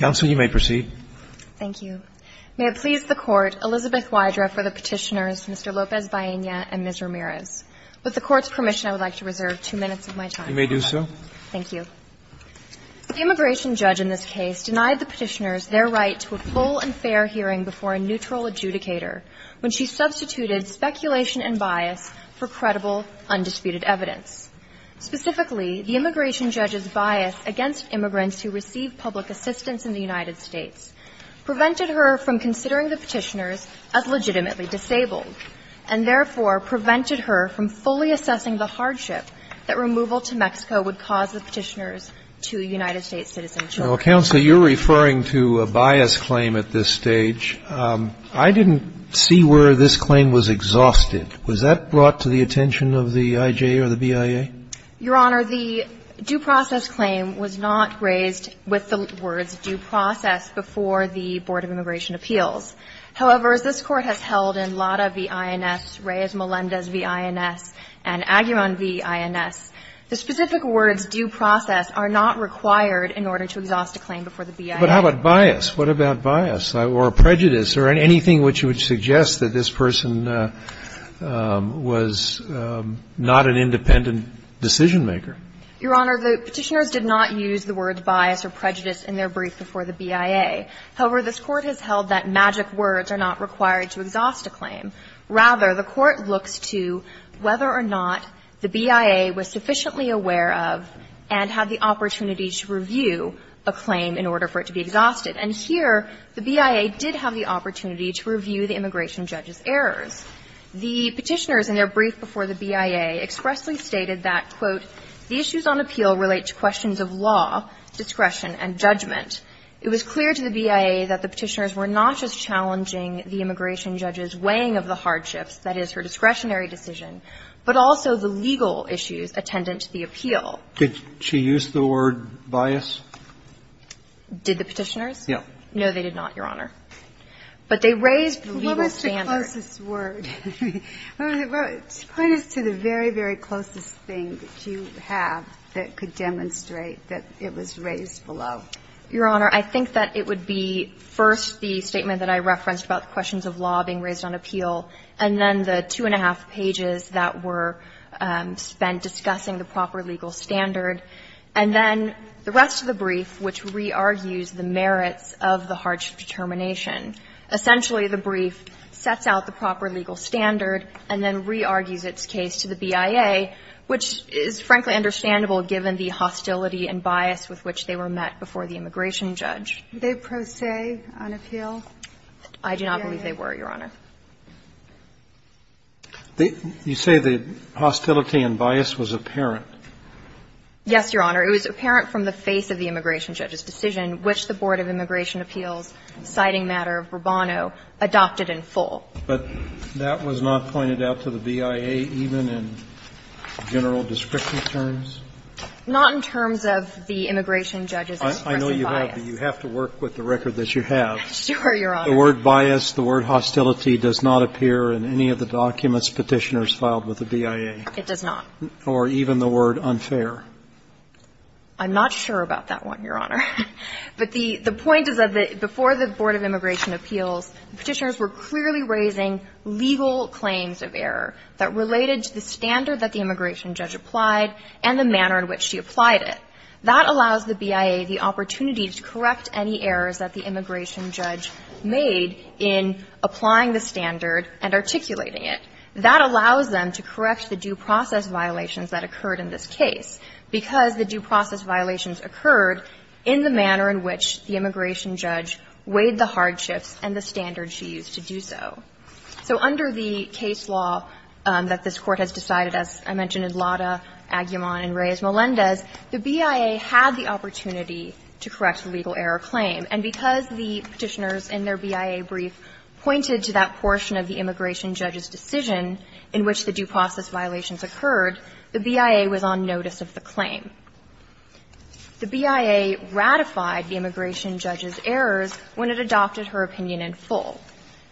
May it please the Court, Elizabeth Wydra for the Petitioners, Mr. Lopez Baena and Ms. Ramirez. With the Court's permission, I would like to reserve two minutes of my time. You may do so. Thank you. The immigration judge in this case denied the Petitioners their right to a full and fair hearing before a neutral adjudicator when she substituted speculation and bias for credible, undisputed evidence. Specifically, the immigration judge's bias against immigrants who receive public assistance in the United States prevented her from considering the Petitioners as legitimately disabled and therefore prevented her from fully assessing the hardship that removal to Mexico would cause the Petitioners to United States citizenship. Well, Counselor, you're referring to a bias claim at this stage. I didn't see where this claim was exhausted. Was that brought to the attention of the I.J. or the BIA? Your Honor, the due process claim was not raised with the words ''due process'' before the Board of Immigration Appeals. However, as this Court has held in Lada v. INS, Reyes-Melendez v. INS, and Aguirre v. INS, the specific words ''due process'' are not required in order to exhaust a claim before the BIA. But how about bias? What about bias or prejudice or anything which would suggest that this person was not an independent decision-maker? Your Honor, the Petitioners did not use the words ''bias'' or ''prejudice'' in their brief before the BIA. However, this Court has held that magic words are not required to exhaust a claim. Rather, the Court looks to whether or not the BIA was sufficiently aware of and had the opportunity to review a claim in order for it to be exhausted. And here, the BIA did have the opportunity to review the immigration judge's errors. The Petitioners, in their brief before the BIA, expressly stated that, quote, ''The issues on appeal relate to questions of law, discretion, and judgment.'' It was clear to the BIA that the Petitioners were not just challenging the immigration judge's weighing of the hardships, that is, her discretionary decision, but also the legal issues attendant to the appeal. Did she use the word ''bias''? Did the Petitioners? Yes. No, they did not, Your Honor. But they raised the legal standard. That's the closest word. Put us to the very, very closest thing that you have that could demonstrate that it was raised below. Your Honor, I think that it would be first the statement that I referenced about the questions of law being raised on appeal, and then the two and a half pages that were spent discussing the proper legal standard, and then the rest of the brief, which re-argues the merits of the hardship determination. Essentially, the brief sets out the proper legal standard and then re-argues its case to the BIA, which is, frankly, understandable given the hostility and bias with which they were met before the immigration judge. Did they pro se on appeal? I do not believe they were, Your Honor. You say the hostility and bias was apparent. Yes, Your Honor. It was apparent from the face of the immigration judge's decision, which the Board of Immigration Appeals, citing matter of Rubano, adopted in full. But that was not pointed out to the BIA even in general description terms? Not in terms of the immigration judge's expressive bias. I know you have, but you have to work with the record that you have. Sure, Your Honor. The word bias, the word hostility does not appear in any of the documents Petitioners filed with the BIA. It does not. Or even the word unfair. I'm not sure about that one, Your Honor. But the point is that before the Board of Immigration Appeals, Petitioners were clearly raising legal claims of error that related to the standard that the immigration judge applied and the manner in which she applied it. That allows the BIA the opportunity to correct any errors that the immigration judge made in applying the standard and articulating it. That allows them to correct the due process violations that occurred in this case because the due process violations occurred in the manner in which the immigration judge weighed the hardships and the standards she used to do so. So under the case law that this Court has decided, as I mentioned, in Lada, Aguiman, and Reyes-Melendez, the BIA had the opportunity to correct the legal error claim. And because the Petitioners in their BIA brief pointed to that portion of the immigration judge's decision in which the due process violations occurred, the BIA was on notice of the claim. The BIA ratified the immigration judge's errors when it adopted her opinion in full.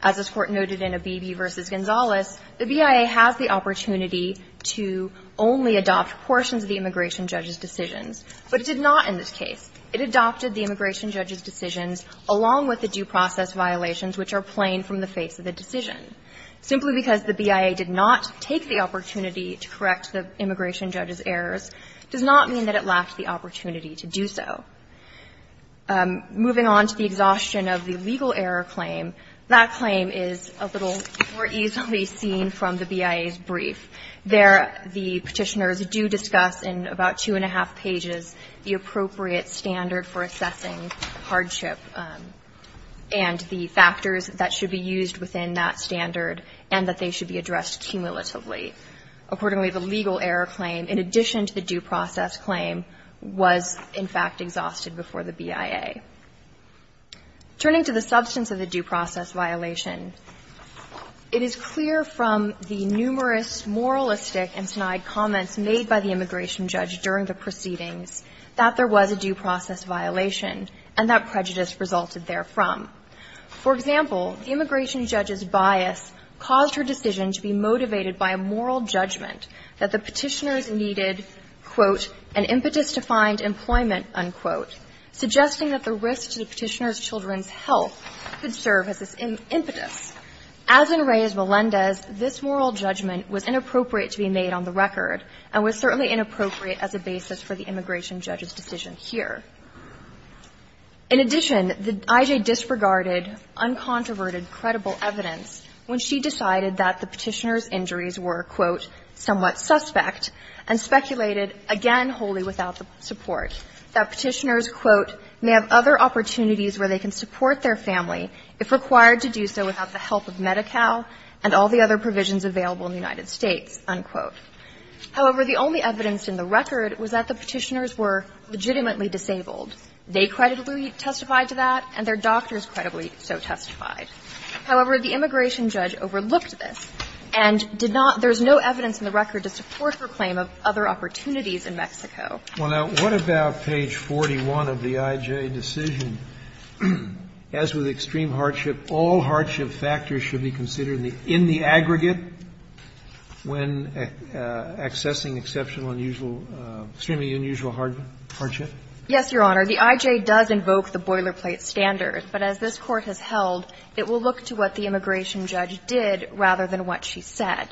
As this Court noted in Abebe v. Gonzales, the BIA has the opportunity to only adopt portions of the immigration judge's decisions, but it did not in this case. It adopted the immigration judge's decisions along with the due process violations which are plain from the face of the decision. Simply because the BIA did not take the opportunity to correct the immigration judge's errors does not mean that it lacked the opportunity to do so. Moving on to the exhaustion of the legal error claim, that claim is a little more easily seen from the BIA's brief. There, the Petitioners do discuss in about two and a half pages the appropriate standard for assessing hardship and the factors that should be used within that standard and that they should be addressed cumulatively. Accordingly, the legal error claim, in addition to the due process claim, was in fact exhausted before the BIA. Turning to the substance of the due process violation, it is clear from the numerous moralistic and snide comments made by the immigration judge during the proceedings that there was a due process violation and that prejudice resulted therefrom. For example, the immigration judge's bias caused her decision to be motivated by a moral judgment that the Petitioners needed, quote, an impetus to find employment, unquote, suggesting that the risk to the Petitioners' children's health could serve as this impetus. As in Reyes-Melendez, this moral judgment was inappropriate to be made on the record and was certainly inappropriate as a basis for the immigration judge's decision here. In addition, the IJ disregarded uncontroverted, credible evidence when she decided that the Petitioners' injuries were, quote, somewhat suspect and speculated, again, wholly without the support, that Petitioners, quote, may have other opportunities where they can support their family if required to do so without the help of Medi-Cal and all the other provisions available in the United States, unquote. However, the only evidence in the record was that the Petitioners were legitimately disabled. They credibly testified to that and their doctors credibly so testified. However, the immigration judge overlooked this and did not – there is no evidence in the record to support her claim of other opportunities in Mexico. Well, now, what about page 41 of the IJ decision? As with extreme hardship, all hardship factors should be considered in the aggregate when accessing exceptional unusual – extremely unusual hardship? Yes, Your Honor. The IJ does invoke the boilerplate standard, but as this Court has held, it will look to what the immigration judge did rather than what she said.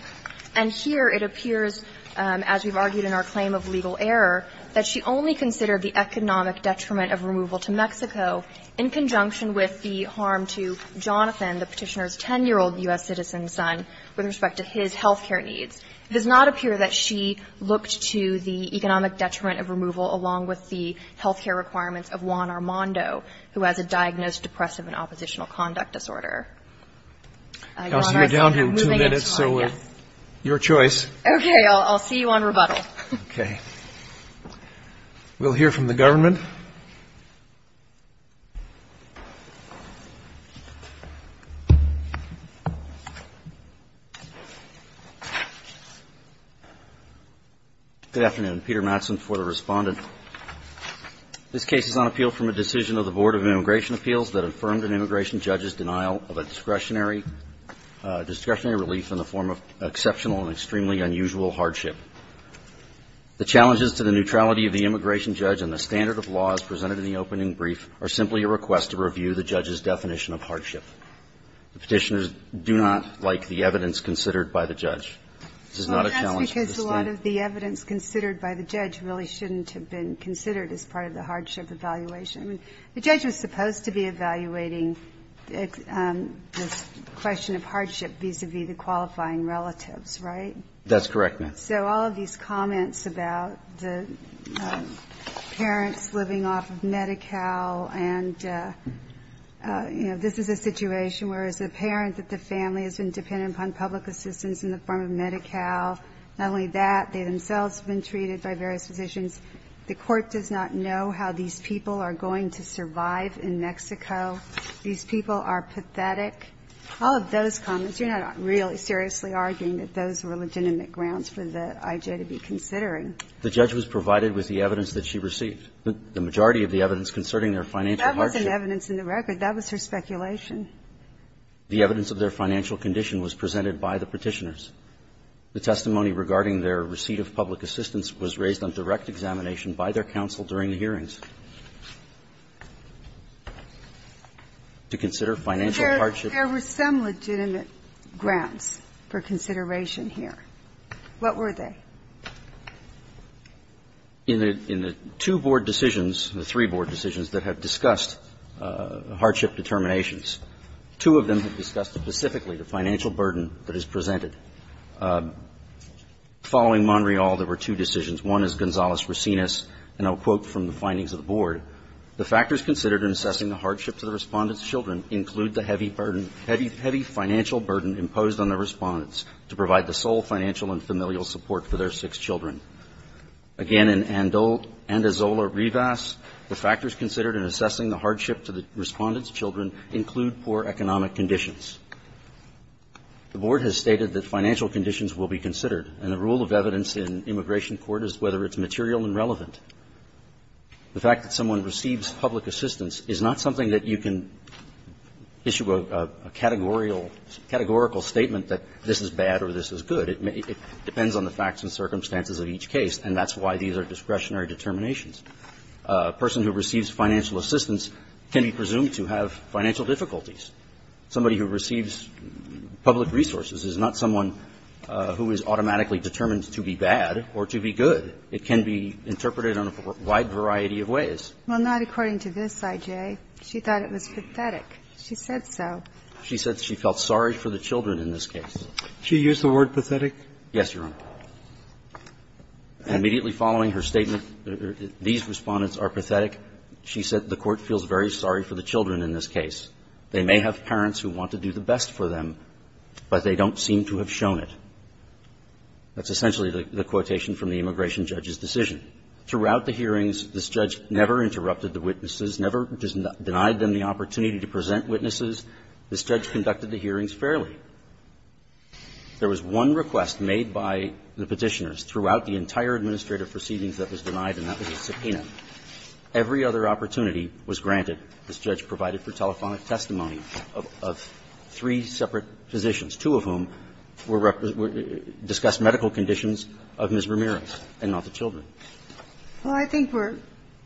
And here it appears, as we've argued in our claim of legal error, that she only considered the economic detriment of removal to Mexico in conjunction with the harm to Jonathan, the Petitioners' 10-year-old U.S. citizen son, with respect to his health care needs. It does not appear that she looked to the economic detriment of removal along with the health care requirements of Juan Armando, who has a diagnosed depressive and oppositional conduct disorder. Your Honor, I'm moving into my next. You're down to two minutes, so your choice. Okay. I'll see you on rebuttal. Okay. We'll hear from the government. Good afternoon. Peter Mattson for the Respondent. This case is on appeal from a decision of the Board of Immigration Appeals that affirmed an immigration judge's denial of a discretionary relief in the form of exceptional and extremely unusual hardship. The challenges to the neutrality of the immigration judge and the standard of laws presented in the opening brief are simply a request to review the judge's definition of hardship. The Petitioners do not like the evidence considered by the judge. This is not a challenge to the State. Well, a lot of the evidence considered by the judge really shouldn't have been considered as part of the hardship evaluation. I mean, the judge was supposed to be evaluating this question of hardship vis-à-vis the qualifying relatives, right? That's correct, ma'am. So all of these comments about the parents living off of Medi-Cal and, you know, this is a situation where it's apparent that the family has been dependent upon public assistance in the form of Medi-Cal. Not only that, they themselves have been treated by various physicians. The Court does not know how these people are going to survive in Mexico. These people are pathetic. All of those comments, you're not really seriously arguing that those were legitimate grounds for the I.J. to be considering. The judge was provided with the evidence that she received. The majority of the evidence concerning their financial hardship. That wasn't evidence in the record. That was her speculation. The evidence of their financial condition was presented by the Petitioners. The testimony regarding their receipt of public assistance was raised on direct examination by their counsel during the hearings. To consider financial hardship. There were some legitimate grounds for consideration here. What were they? In the two board decisions, the three board decisions that have discussed hardship determinations, two of them have discussed specifically the financial burden that is presented. Following Monreal, there were two decisions. One is Gonzales-Racinus, and I'll quote from the findings of the board. The factors considered in assessing the hardship to the Respondent's children include the heavy burden, heavy financial burden imposed on the Respondents to provide the sole financial and familial support for their six children. Again, in Andazola-Rivas, the factors considered in assessing the hardship to the Respondent's children include poor economic conditions. The board has stated that financial conditions will be considered, and the rule of evidence in immigration court is whether it's material and relevant. The fact that someone receives public assistance is not something that you can issue a categorical statement that this is bad or this is good. It depends on the facts and circumstances of each case, and that's why these are discretionary determinations. A person who receives financial assistance can be presumed to have financial difficulties. Somebody who receives public resources is not someone who is automatically determined to be bad or to be good. It can be interpreted in a wide variety of ways. Well, not according to this, I.J. She thought it was pathetic. She said so. She said she felt sorry for the children in this case. Did she use the word pathetic? Yes, Your Honor. And immediately following her statement, these Respondents are pathetic, she said the court feels very sorry for the children in this case. They may have parents who want to do the best for them, but they don't seem to have shown it. That's essentially the quotation from the immigration judge's decision. Throughout the hearings, this judge never interrupted the witnesses, never denied them the opportunity to present witnesses. This judge conducted the hearings fairly. There was one request made by the Petitioners throughout the entire administrative proceedings that was denied, and that was a subpoena. Every other opportunity was granted, this judge provided for telephonic testimony of three separate physicians, two of whom were represented to discuss medical conditions of Ms. Ramirez and not the children. Well, I think we're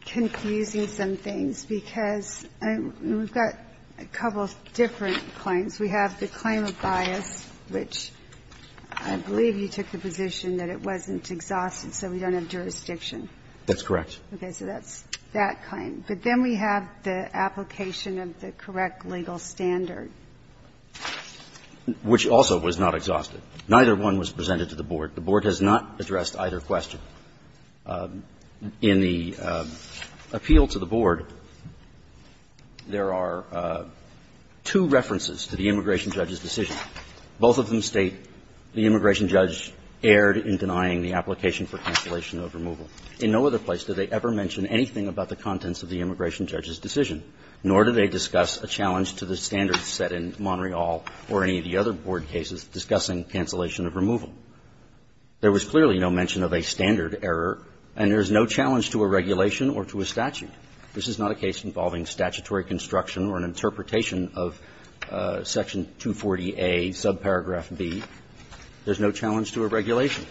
confusing some things because we've got a couple of different claims. We have the claim of bias, which I believe you took the position that it wasn't exhausted, so we don't have jurisdiction. That's correct. Okay. So that's that claim. But then we have the application of the correct legal standard. Which also was not exhausted. Neither one was presented to the Board. The Board has not addressed either question. In the appeal to the Board, there are two references to the immigration judge's decision. Both of them state the immigration judge erred in denying the application for cancellation of removal. In no other place did they ever mention anything about the contents of the immigration judge's decision, nor did they discuss a challenge to the standards set in Monterey Hall or any of the other Board cases discussing cancellation of removal. There was clearly no mention of a standard error, and there's no challenge to a regulation or to a statute. This is not a case involving statutory construction or an interpretation of Section 240A, subparagraph B. There's no challenge to a regulation.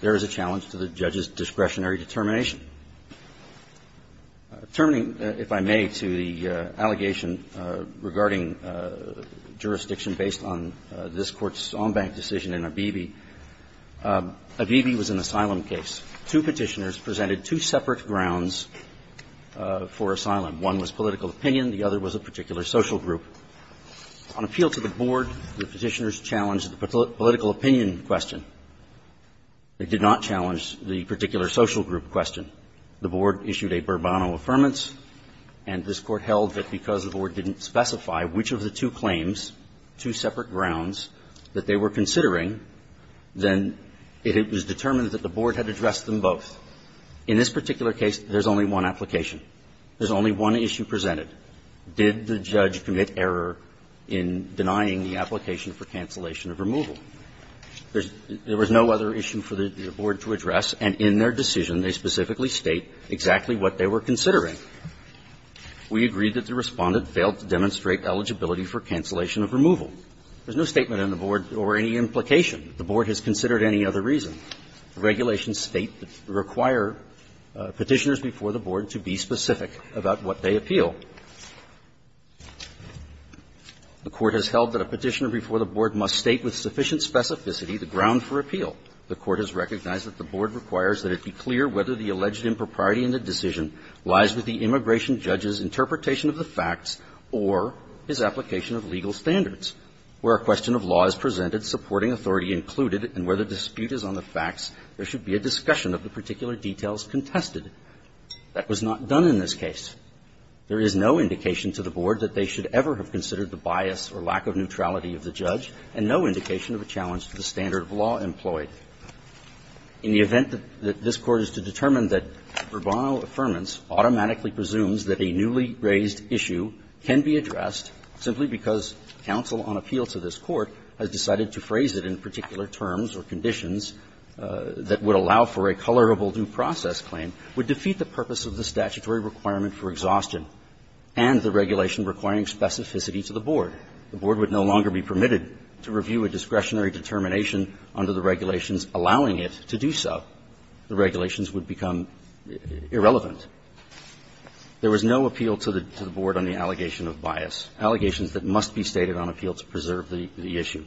There is a challenge to the judge's discretionary determination. Termining, if I may, to the allegation regarding jurisdiction based on this Court's decision in Abebe, Abebe was an asylum case. Two Petitioners presented two separate grounds for asylum. One was political opinion, the other was a particular social group. On appeal to the Board, the Petitioners challenged the political opinion question. They did not challenge the particular social group question. The Board issued a Bourbonno Affirmance, and this Court held that because the Board didn't specify which of the two claims, two separate grounds, that they were considering, then it was determined that the Board had addressed them both. In this particular case, there's only one application. There's only one issue presented. Did the judge commit error in denying the application for cancellation of removal? There was no other issue for the Board to address, and in their decision, they specifically state exactly what they were considering. We agree that the Respondent failed to demonstrate eligibility for cancellation of removal. There's no statement on the Board or any implication. The Board has considered any other reason. The regulations state that they require Petitioners before the Board to be specific about what they appeal. The Court has held that a Petitioner before the Board must state with sufficient specificity the ground for appeal. The Court has recognized that the Board requires that it be clear whether the alleged impropriety in the decision lies with the immigration judge's interpretation of the facts or his application of legal standards. Where a question of law is presented, supporting authority included, and where the dispute is on the facts, there should be a discussion of the particular details contested. That was not done in this case. There is no indication to the Board that they should ever have considered the bias or lack of neutrality of the judge, and no indication of a challenge to the standard of law employed. In the event that this Court is to determine that Bourbon affirmance automatically presumes that a newly raised issue can be addressed simply because counsel on appeal to this Court has decided to phrase it in particular terms or conditions that would allow for a colorable due process claim, would defeat the purpose of the statutory requirement for exhaustion and the regulation requiring specificity to the Board. The Board would no longer be permitted to review a discretionary determination under the regulations allowing it to do so. The regulations would become irrelevant. There was no appeal to the Board on the allegation of bias, allegations that must be stated on appeal to preserve the issue.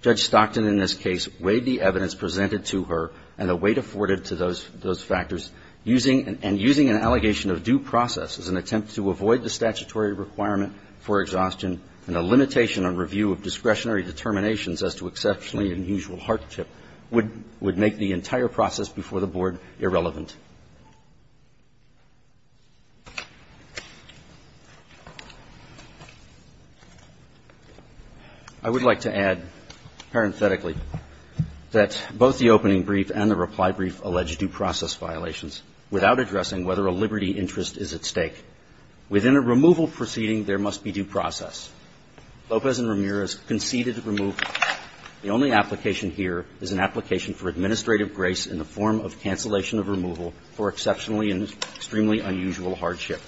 Judge Stockton in this case weighed the evidence presented to her and the weight afforded to those factors, using an allegation of due process as an attempt to avoid the statutory requirement for exhaustion and a limitation on review of discretionary determinations as to exceptionally unusual hardship would make the entire process before the Board irrelevant. I would like to add parenthetically that both the opening brief and the reply brief allege due process violations without addressing whether a liberty interest is at stake. Within a removal proceeding, there must be due process. Lopez and Ramirez conceded removal. The only application here is an application for administrative grace in the form of cancellation of removal for exceptionally and extremely unusual hardship.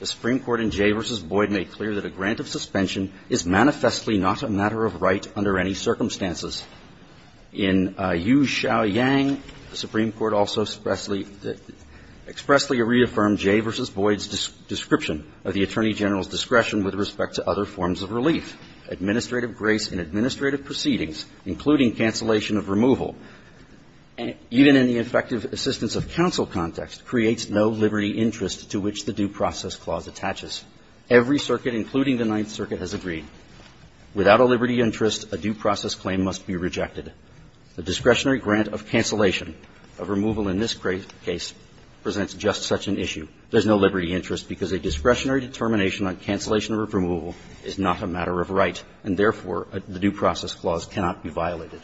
The Supreme Court in Jay v. Boyd made clear that a grant of suspension is manifestly not a matter of right under any circumstances. In Yu Xiao Yang, the Supreme Court also expressly reaffirmed Jay v. Boyd's discretion of the Attorney General's discretion with respect to other forms of relief. Administrative grace in administrative proceedings, including cancellation of removal, even in the effective assistance of counsel context, creates no liberty interest to which the due process clause attaches. Every circuit, including the Ninth Circuit, has agreed. Without a liberty interest, a due process claim must be rejected. The discretionary grant of cancellation of removal in this case presents just such an issue. There's no liberty interest because a discretionary determination on cancellation of removal is not a matter of right, and therefore, the due process clause cannot be violated.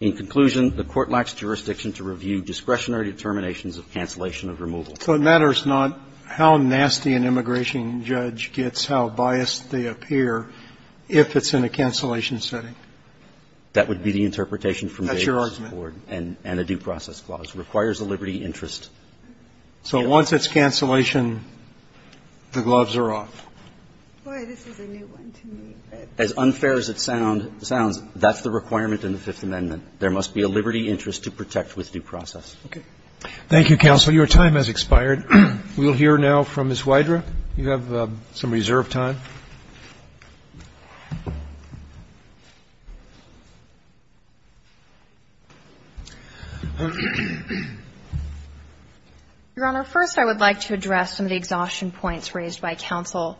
In conclusion, the Court lacks jurisdiction to review discretionary determinations of cancellation of removal. So it matters not how nasty an immigration judge gets, how biased they appear, if it's in a cancellation setting? That would be the interpretation from Jay v. Boyd. That's your argument. And a due process clause requires a liberty interest. So once it's cancellation, the gloves are off. Boy, this is a new one to me. As unfair as it sounds, that's the requirement in the Fifth Amendment. There must be a liberty interest to protect with due process. Okay. Thank you, counsel. Your time has expired. We will hear now from Ms. Wydra. You have some reserved time. Your Honor, first, I would like to address some of the exhaustion points raised by counsel.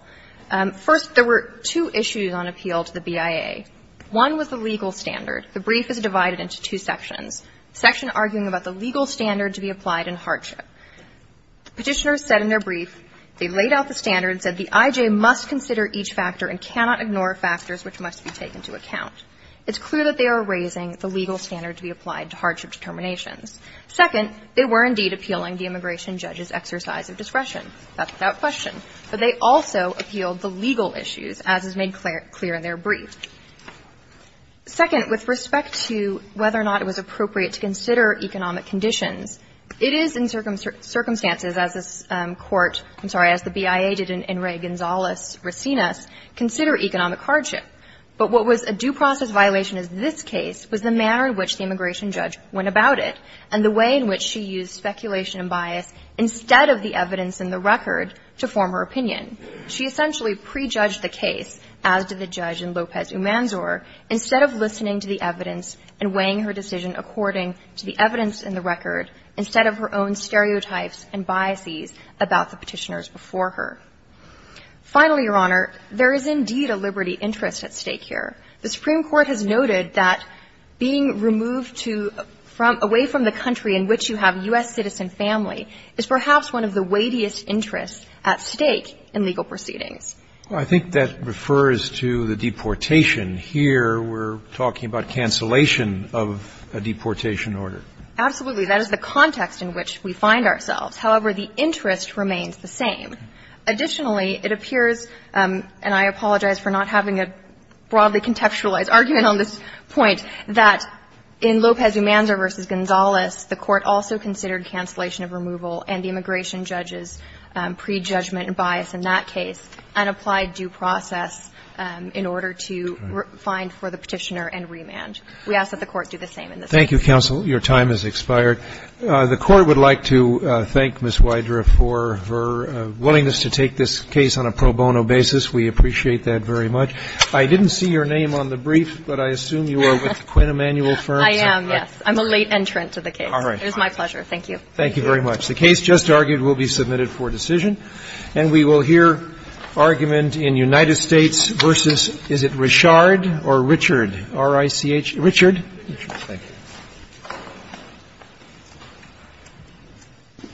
First, there were two issues on appeal to the BIA. One was the legal standard. The brief is divided into two sections, section arguing about the legal standard to be applied in hardship. Petitioners said in their brief they laid out the standard, said the I.J. must consider each factor and cannot ignore factors which must be taken into account. It's clear that they are raising the legal standard to be applied to hardship determinations. Second, they were indeed appealing the immigration judge's exercise of discretion. That's without question. But they also appealed the legal issues, as is made clear in their brief. Second, with respect to whether or not it was appropriate to consider economic conditions, it is in circumstances as this Court — I'm sorry, as the BIA did in Ray Gonzalez-Racinus — consider economic hardship. But what was a due process violation as this case was the manner in which the immigration judge went about it and the way in which she used speculation and bias instead of the evidence in the record to form her opinion. She essentially prejudged the case, as did the judge in Lopez-Umanzor, instead of listening to the evidence and weighing her decision according to the evidence in the record, instead of her own stereotypes and biases about the petitioners before her. Finally, Your Honor, there is indeed a liberty interest at stake here. The Supreme Court has noted that being removed to — away from the country in which you have U.S. citizen family is perhaps one of the weightiest interests at stake in legal proceedings. Well, I think that refers to the deportation. Here, we're talking about cancellation of a deportation order. Absolutely. That is the context in which we find ourselves. However, the interest remains the same. Additionally, it appears, and I apologize for not having a broadly contextualized argument on this point, that in Lopez-Umanzor v. Gonzalez, the Court also considered cancellation of removal and the immigration judge's prejudgment and bias in that case and applied due process in order to find for the petitioner and remand. We ask that the Court do the same in this case. Thank you, counsel. Your time has expired. The Court would like to thank Ms. Wydra for her willingness to take this case on a pro bono basis. We appreciate that very much. I didn't see your name on the brief, but I assume you are with Quinn Emanuel Firm. I am, yes. I'm a late entrant to the case. All right. It is my pleasure. Thank you. Thank you very much. The case just argued will be submitted for decision. And we will hear argument in United States v. — is it Richard or Richard, R-I-C-H — Richard. Richard, thank you.